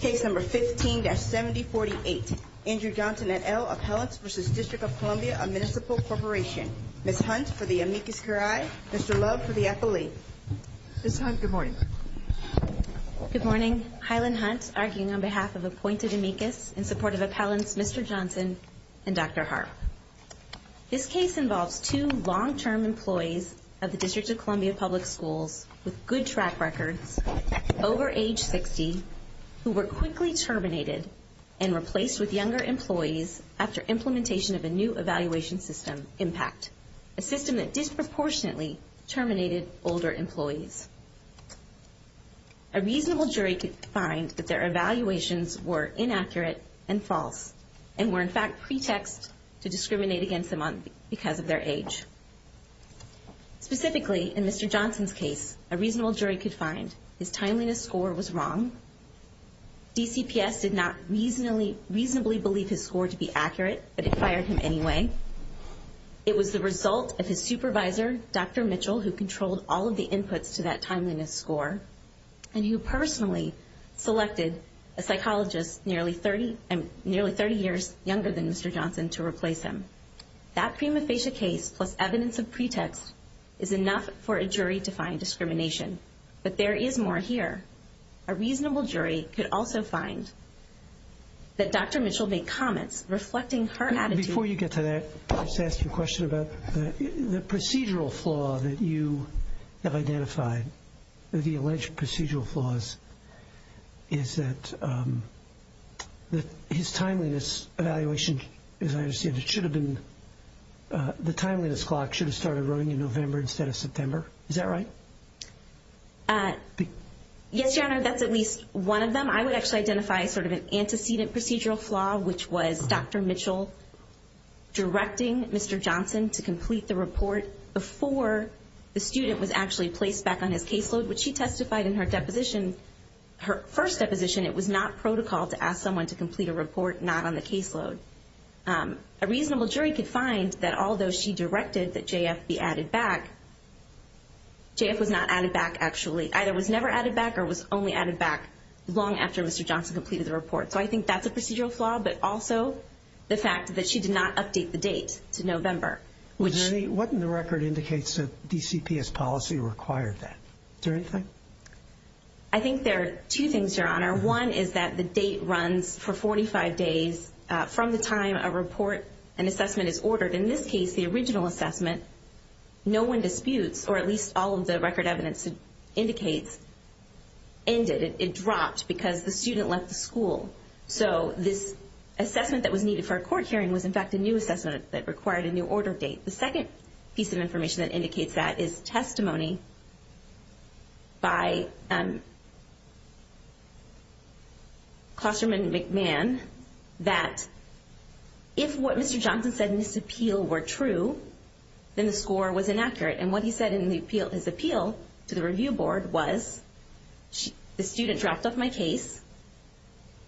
Case number 15-7048. Andrew Johnson et al. Appellants v. District of Columbia Municipal Corporation. Ms. Hunt for the amicus curiae, Mr. Love for the affilee. Ms. Hunt, good morning. Good morning. Hylin Hunt, arguing on behalf of appointed amicus in support of appellants Mr. Johnson and Dr. Harp. This case involves two long-term employees of the District of Columbia Public Schools with good track records over age 60 who were quickly terminated and replaced with younger employees after implementation of a new evaluation system, IMPACT, a system that disproportionately terminated older employees. A reasonable jury could find that their evaluations were inaccurate and false and were in fact pretext to discriminate against them because of their age. Specifically, in Mr. Johnson's case, a reasonable jury could find his timeliness score was wrong, DCPS did not reasonably believe his score to be accurate, but it fired him anyway, it was the result of his supervisor, Dr. Mitchell, who controlled all of the inputs to that timeliness score, and who personally selected a psychologist nearly 30 years younger than Mr. Johnson to replace him. That prima facie case plus evidence of pretext is enough for a jury to find discrimination, but there is more here. A reasonable jury could also find that Dr. Mitchell made comments reflecting her attitude Before you get to that, I'll just ask you a question about the procedural flaw that you have identified, the alleged procedural flaws, is that his timeliness evaluation, as I understand it, should have been, the timeliness clock should have started running in November instead of September, is that right? Yes, Your Honor, that's at least one of them. I would actually identify sort of an antecedent procedural flaw, which was Dr. Mitchell directing Mr. Johnson to complete the report before the student was actually placed back on his caseload, which she testified in her deposition, her first deposition, it was not protocol to ask someone to complete a report not on the caseload. A reasonable jury could find that although she directed that JF be added back, So I think that's a procedural flaw, but also the fact that she did not update the date to November. What in the record indicates that DCPS policy required that? Is there anything? I think there are two things, Your Honor. One is that the date runs for 45 days from the time a report and assessment is ordered. In this case, the original assessment, no one disputes, or at least all of the record evidence indicates, ended. It dropped because the student left the school. So this assessment that was needed for a court hearing was in fact a new assessment that required a new order date. The second piece of information that indicates that is testimony by Klosterman McMahon that if what Mr. Johnson said in his appeal were true, then the score was inaccurate. And what he said in his appeal to the review board was, the student dropped off my case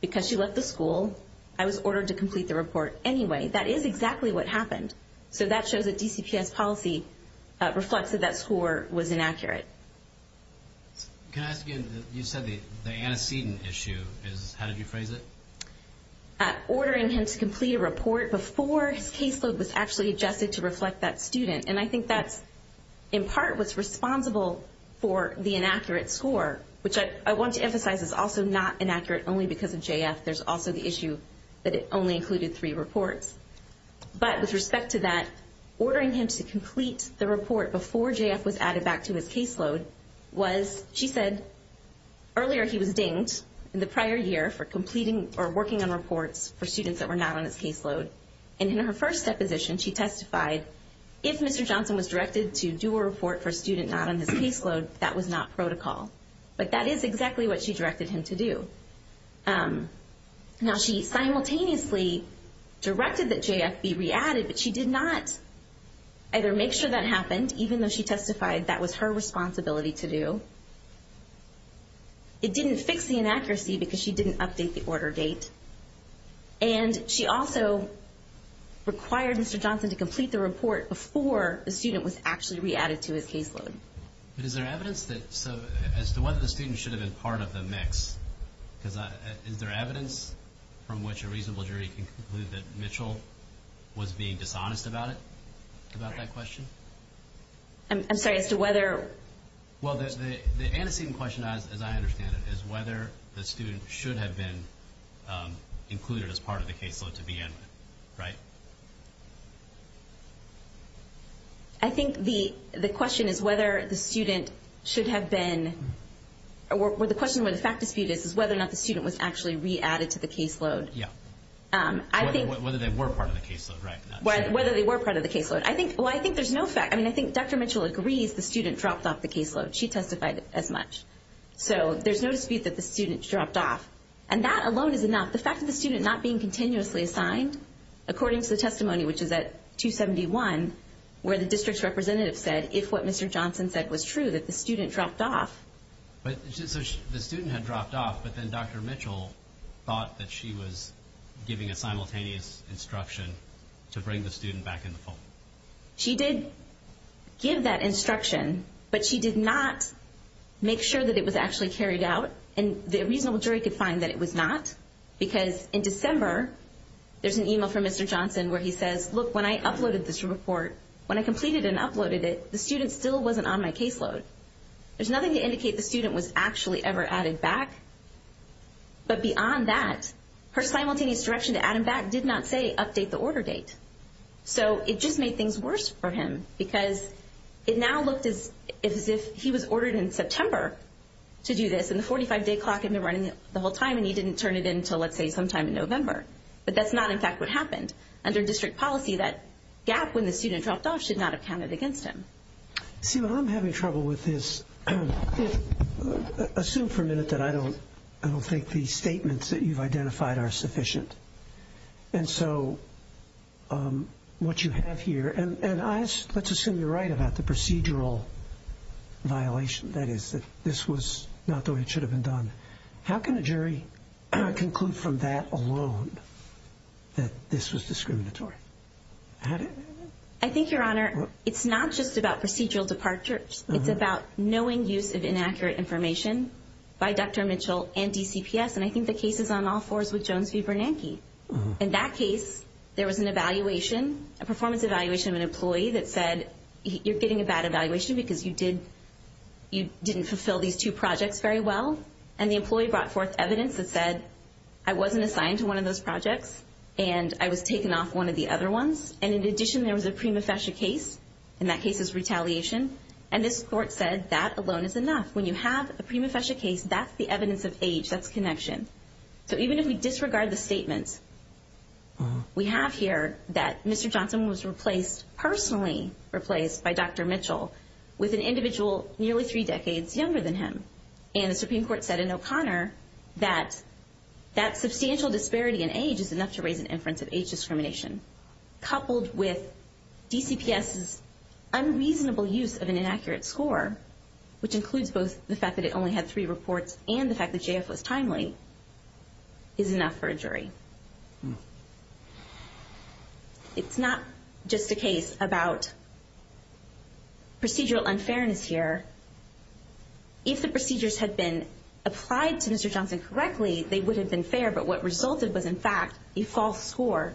because she left the school. I was ordered to complete the report anyway. That is exactly what happened. So that shows that DCPS policy reflects that that score was inaccurate. Can I ask again, you said the antecedent issue, how did you phrase it? Ordering him to complete a report before his caseload was actually adjusted to reflect that student. And I think that in part was responsible for the inaccurate score, which I want to emphasize is also not inaccurate only because of JF. There's also the issue that it only included three reports. But with respect to that, ordering him to complete the report before JF was added back to his caseload was, she said earlier he was dinged in the prior year for completing or working on reports for students that were not on his caseload. And in her first deposition, she testified if Mr. Johnson was directed to do a report for a student not on his caseload, that was not protocol. But that is exactly what she directed him to do. Now, she simultaneously directed that JF be re-added, but she did not either make sure that happened, even though she testified that was her responsibility to do. It didn't fix the inaccuracy because she didn't update the order date. And she also required Mr. Johnson to complete the report before the student was actually re-added to his caseload. But is there evidence that, as to whether the student should have been part of the mix, because is there evidence from which a reasonable jury can conclude that Mitchell was being dishonest about it, about that question? I'm sorry, as to whether? Well, the antecedent question, as I understand it, is whether the student should have been included as part of the caseload to begin with, right? I think the question is whether the student should have been, or the question where the fact dispute is, is whether or not the student was actually re-added to the caseload. Yeah. Whether they were part of the caseload, right. Whether they were part of the caseload. I think, well, I think there's no fact, I mean, I think Dr. Mitchell agrees the student dropped off the caseload. She testified as much. So, there's no dispute that the student dropped off. And that alone is enough. The fact that the student not being continuously assigned, according to the testimony, which is at 271, where the district's representative said, if what Mr. Johnson said was true, that the student dropped off. But, so the student had dropped off, but then Dr. Mitchell thought that she was giving a simultaneous instruction to bring the student back in the fold. She did give that instruction, but she did not make sure that it was actually carried out. And the reasonable jury could find that it was not, because in December, there's an email from Mr. Johnson where he says, look, when I uploaded this report, when I completed and uploaded it, the student still wasn't on my caseload. There's nothing to indicate the student was actually ever added back. But beyond that, her simultaneous direction to add him back did not say update the order date. So, it just made things worse for him, because it now looked as if he was ordered in September to do this, and the 45-day clock had been running the whole time, and he didn't turn it in until, let's say, sometime in November. But that's not, in fact, what happened. Under district policy, that gap when the student dropped off should not have counted against him. See, what I'm having trouble with is, assume for a minute that I don't think the statements that you've identified are sufficient. And so, what you have here, and let's assume you're right about the procedural violation, that is, that this was not the way it should have been done. How can a jury conclude from that alone that this was discriminatory? I think, Your Honor, it's not just about procedural departures. It's about knowing use of inaccurate information by Dr. Mitchell and DCPS, and I think the case is on all fours with Jones v. Bernanke. In that case, there was an evaluation, a performance evaluation of an employee that said, you're getting a bad evaluation because you didn't fulfill these two projects very well. And the employee brought forth evidence that said, I wasn't assigned to one of those projects, and I was taken off one of the other ones. And in addition, there was a prima facie case, and that case is retaliation. And this court said that alone is enough. When you have a prima facie case, that's the evidence of age. That's connection. So even if we disregard the statement, we have here that Mr. Johnson was replaced, personally replaced by Dr. Mitchell, with an individual nearly three decades younger than him. And the Supreme Court said in O'Connor that that substantial disparity in age is enough to raise an inference of age discrimination, coupled with DCPS's unreasonable use of an inaccurate score, which includes both the fact that it only had three reports and the fact that J.F. was timely, is enough for a jury. It's not just a case about procedural unfairness here. If the procedures had been applied to Mr. Johnson correctly, they would have been fair. But what resulted was, in fact, a false score.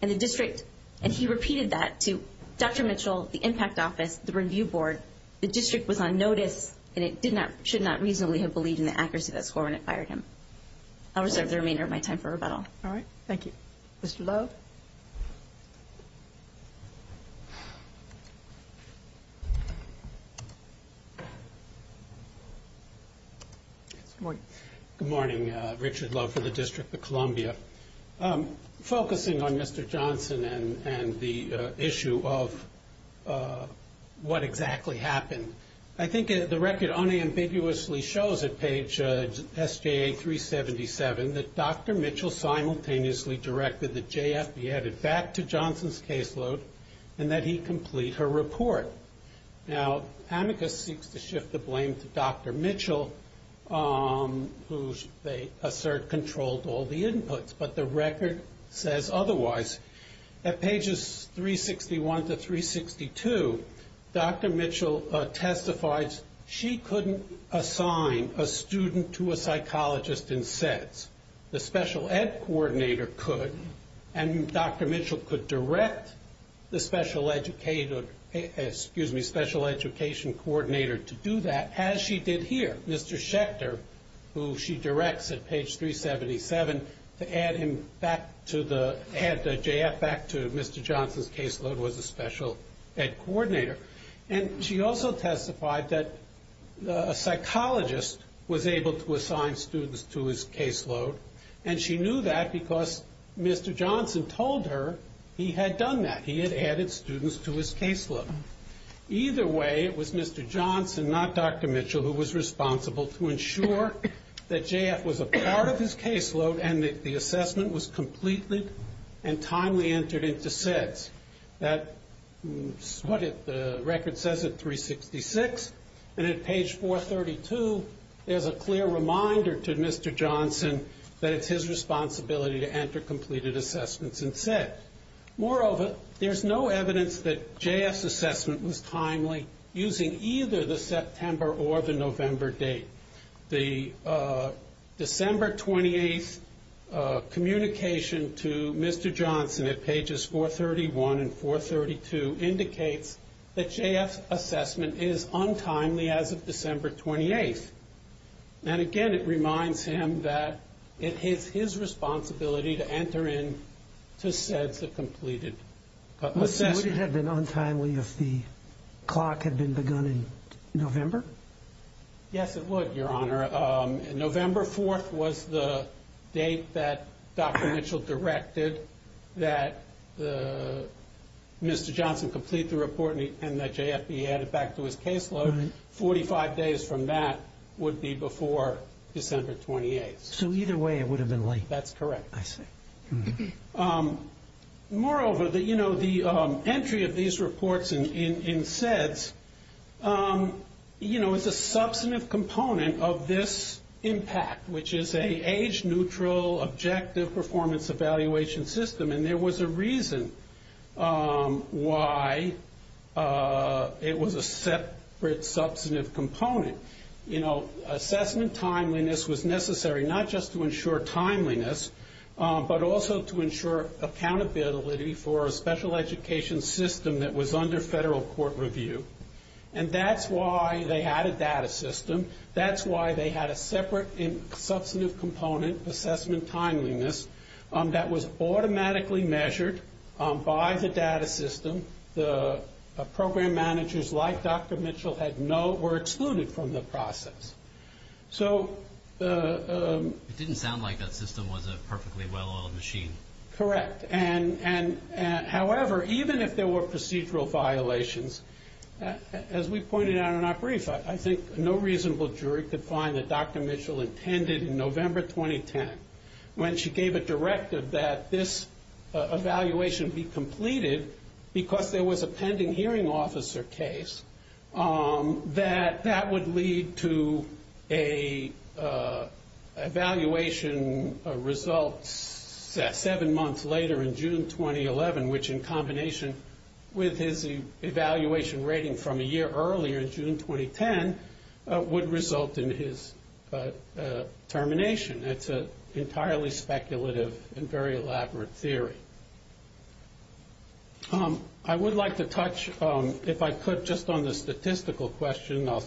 And the district, and he repeated that to Dr. Mitchell, the impact office, the review board. The district was on notice, and it should not reasonably have believed in the accuracy of that score when it fired him. I'll reserve the remainder of my time for rebuttal. All right. Thank you. Mr. Love? Good morning. Richard Love for the District of Columbia. Focusing on Mr. Johnson and the issue of what exactly happened, I think the record unambiguously shows at page SJA-377 that Dr. Mitchell simultaneously directed that J.F. be added back to Johnson's caseload and that he complete her report. Now, Amicus seeks to shift the blame to Dr. Mitchell, who they assert controlled all the inputs. But the record says otherwise. At pages 361 to 362, Dr. Mitchell testifies she couldn't assign a student to a psychologist in SEDS. The special ed coordinator could, and Dr. Mitchell could direct the special education coordinator to do that, as she did here. Mr. Schechter, who she directs at page 377, to add J.F. back to Mr. Johnson's caseload was a special ed coordinator. And she also testified that a psychologist was able to assign students to his caseload, and she knew that because Mr. Johnson told her he had done that, he had added students to his caseload. Either way, it was Mr. Johnson, not Dr. Mitchell, who was responsible to ensure that J.F. was a part of his caseload and that the assessment was completely and timely entered into SEDS. That's what the record says at 366. And at page 432, there's a clear reminder to Mr. Johnson that it's his responsibility to enter completed assessments in SEDS. Moreover, there's no evidence that J.F.'s assessment was timely using either the September or the November date. The December 28th communication to Mr. Johnson at pages 431 and 432 indicates that J.F.'s assessment is untimely as of December 28th. And again, it reminds him that it is his responsibility to enter into SEDS a completed assessment. Would it have been untimely if the clock had been begun in November? Yes, it would, Your Honor. November 4th was the date that Dr. Mitchell directed that Mr. Johnson complete the report and that J.F. be added back to his caseload. Forty-five days from that would be before December 28th. So either way, it would have been late. That's correct. I see. Moreover, the entry of these reports in SEDS is a substantive component of this impact, which is an age-neutral objective performance evaluation system. And there was a reason why it was a separate substantive component. Assessment timeliness was necessary not just to ensure timeliness, but also to ensure accountability for a special education system that was under federal court review. And that's why they had a data system. That's why they had a separate substantive component, assessment timeliness, that was automatically measured by the data system. And the program managers, like Dr. Mitchell, were excluded from the process. It didn't sound like that system was a perfectly well-oiled machine. Correct. However, even if there were procedural violations, as we pointed out in our brief, I think no reasonable jury could find that Dr. Mitchell intended in November 2010, when she gave a directive that this evaluation be completed because there was a pending hearing officer case, that that would lead to an evaluation result seven months later in June 2011, which in combination with his evaluation rating from a year earlier, June 2010, would result in his termination. It's an entirely speculative and very elaborate theory. I would like to touch, if I could, just on the statistical question. I'll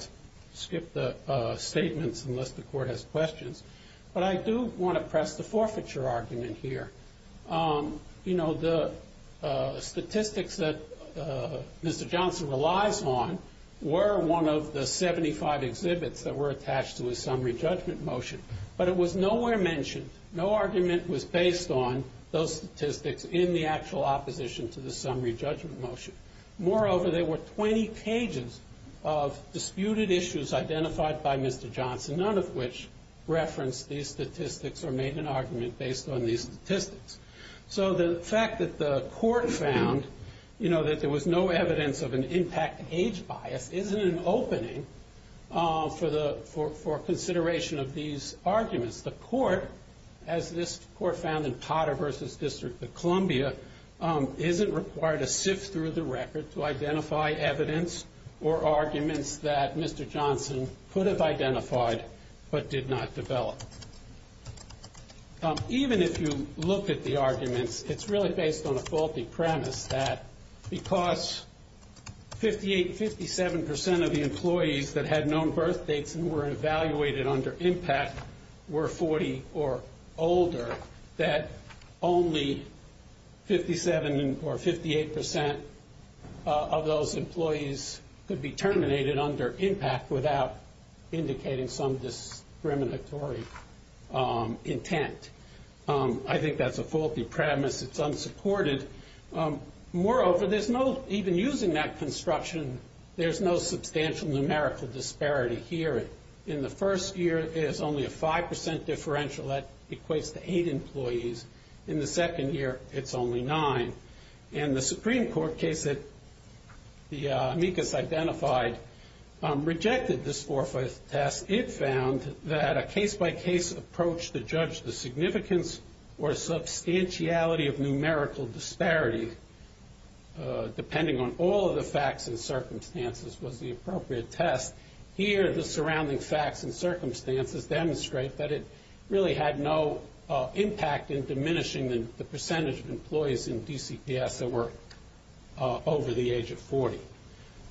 skip the statements unless the court has questions. But I do want to press the forfeiture argument here. You know, the statistics that Mr. Johnson relies on were one of the 75 exhibits that were attached to his summary judgment motion, but it was nowhere mentioned, no argument was based on those statistics in the actual opposition to the summary judgment motion. Moreover, there were 20 pages of disputed issues identified by Mr. Johnson, none of which referenced these statistics or made an argument based on these statistics. So the fact that the court found that there was no evidence of an impact age bias isn't an opening for consideration of these arguments. The court, as this court found in Potter v. District of Columbia, isn't required to sift through the record to identify evidence or arguments that Mr. Johnson could have identified but did not develop. Even if you look at the arguments, it's really based on a faulty premise that because 57% of the employees that had known birth dates and were evaluated under impact were 40 or older, that only 57% or 58% of those employees could be terminated under impact without indicating some discriminatory intent. I think that's a faulty premise. It's unsupported. Moreover, even using that construction, there's no substantial numerical disparity here. In the first year, it's only a 5% differential. That equates to eight employees. In the second year, it's only nine. And the Supreme Court case that the amicus identified rejected this forfeit test. It found that a case-by-case approach to judge the significance or substantiality of numerical disparity, depending on all of the facts and circumstances, was the appropriate test. Here, the surrounding facts and circumstances demonstrate that it really had no impact in diminishing the percentage of employees in DCPS that were over the age of 40.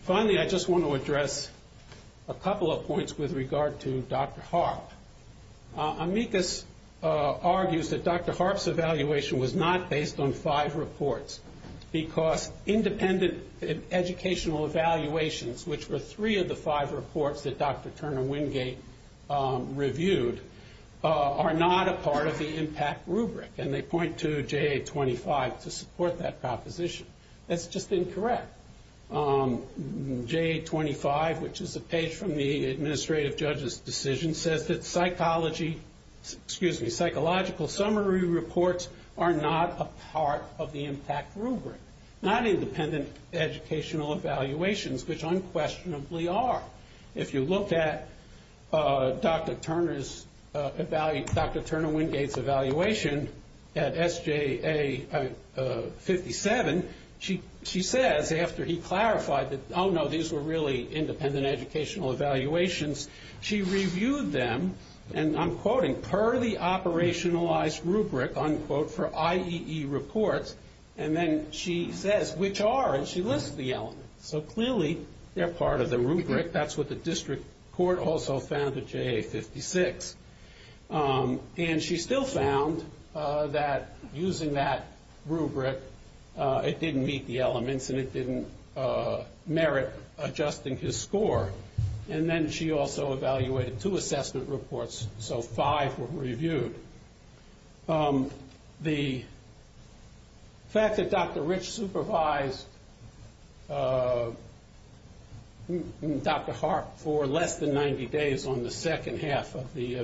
Finally, I just want to address a couple of points with regard to Dr. Harp. Amicus argues that Dr. Harp's evaluation was not based on five reports because independent educational evaluations, which were three of the five reports that Dr. Turner Wingate reviewed, are not a part of the impact rubric. And they point to JA-25 to support that proposition. That's just incorrect. JA-25, which is a page from the administrative judge's decision, says that psychological summary reports are not a part of the impact rubric. Not independent educational evaluations, which unquestionably are. If you look at Dr. Turner Wingate's evaluation at SJA-57, she says, after he clarified that, oh no, these were really independent educational evaluations, she reviewed them, and I'm quoting, per the operationalized rubric, unquote, for IEE reports, and then she says which are, and she lists the elements. So clearly they're part of the rubric. That's what the district court also found at JA-56. And she still found that using that rubric, it didn't meet the elements and it didn't merit adjusting his score. And then she also evaluated two assessment reports, so five were reviewed. The fact that Dr. Rich supervised Dr. Harp for less than 90 days on the second half of the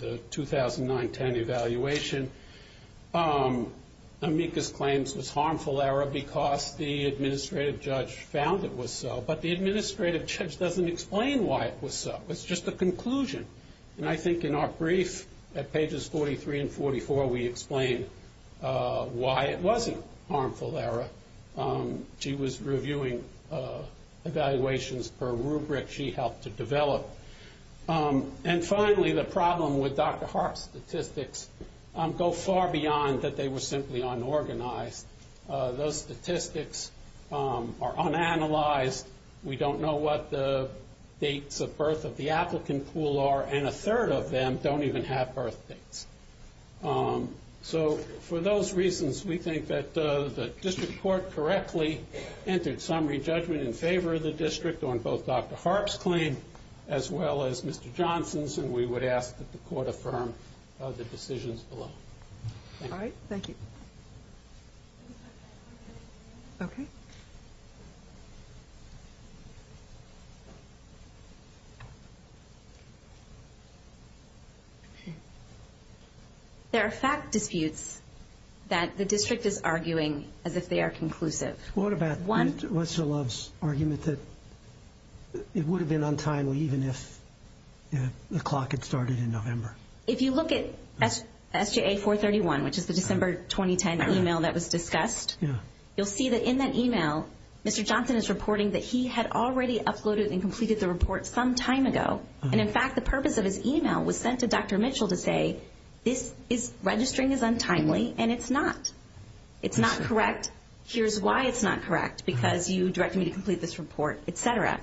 2009-10 evaluation, amicus claims was harmful error because the administrative judge found it was so, but the administrative judge doesn't explain why it was so. It's just a conclusion. And I think in our brief, at pages 43 and 44, we explain why it wasn't harmful error. She was reviewing evaluations per rubric she helped to develop. And finally, the problem with Dr. Harp's statistics go far beyond that they were simply unorganized. Those statistics are unanalyzed. We don't know what the dates of birth of the applicant pool are, and a third of them don't even have birth dates. So for those reasons, we think that the district court correctly entered some re-judgment in favor of the district on both Dr. Harp's claim as well as Mr. Johnson's, and we would ask that the court affirm the decisions below. All right. Thank you. Okay. There are fact disputes that the district is arguing as if they are conclusive. What about Mr. Love's argument that it would have been untimely even if the clock had started in November? If you look at SJA 431, which is the December 2010 email that was discussed, you'll see that in that email, Mr. Johnson is reporting that he had already uploaded and completed the report some time ago, and in fact the purpose of his email was sent to Dr. Mitchell to say, this is registering as untimely, and it's not. It's not correct. Here's why it's not correct, because you directed me to complete this report, et cetera.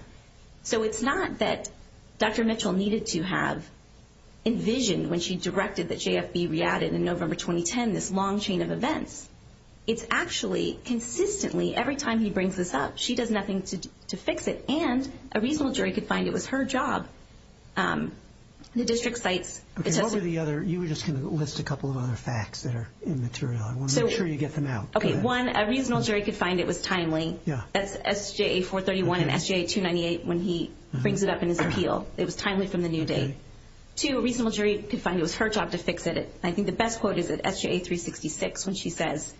So it's not that Dr. Mitchell needed to have envisioned when she directed that JFB re-added in November 2010 this long chain of events. It's actually consistently, every time he brings this up, she does nothing to fix it, and a reasonable jury could find it was her job. The district cites it to us. Okay. What were the other? You were just going to list a couple of other facts that are immaterial. I want to make sure you get them out. Okay. One, a reasonable jury could find it was timely. That's SJA 431 and SJA 298 when he brings it up in his appeal. It was timely from the new day. Two, a reasonable jury could find it was her job to fix it. I think the best quote is at SJA 366 when she says,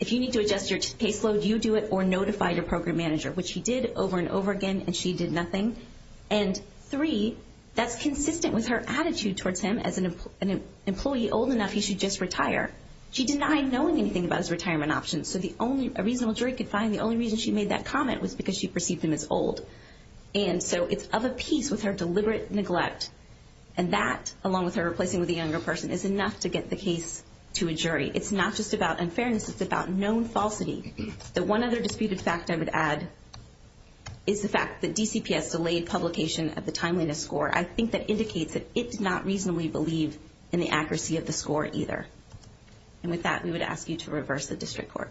if you need to adjust your caseload, you do it, or notify your program manager, which he did over and over again, and she did nothing. And three, that's consistent with her attitude towards him. As an employee old enough, he should just retire. She denied knowing anything about his retirement options, so a reasonable jury could find the only reason she made that comment was because she perceived him as old. And so it's of a piece with her deliberate neglect, and that along with her replacing with a younger person is enough to get the case to a jury. It's not just about unfairness. It's about known falsity. The one other disputed fact I would add is the fact that DCPS delayed publication of the timeliness score. I think that indicates that it did not reasonably believe in the accuracy of the score either. And with that, we would ask you to reverse the district court.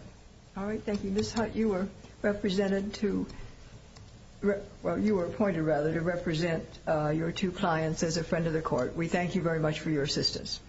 All right, thank you. Ms. Hutt, you were appointed to represent your two clients as a friend of the court. We thank you very much for your assistance.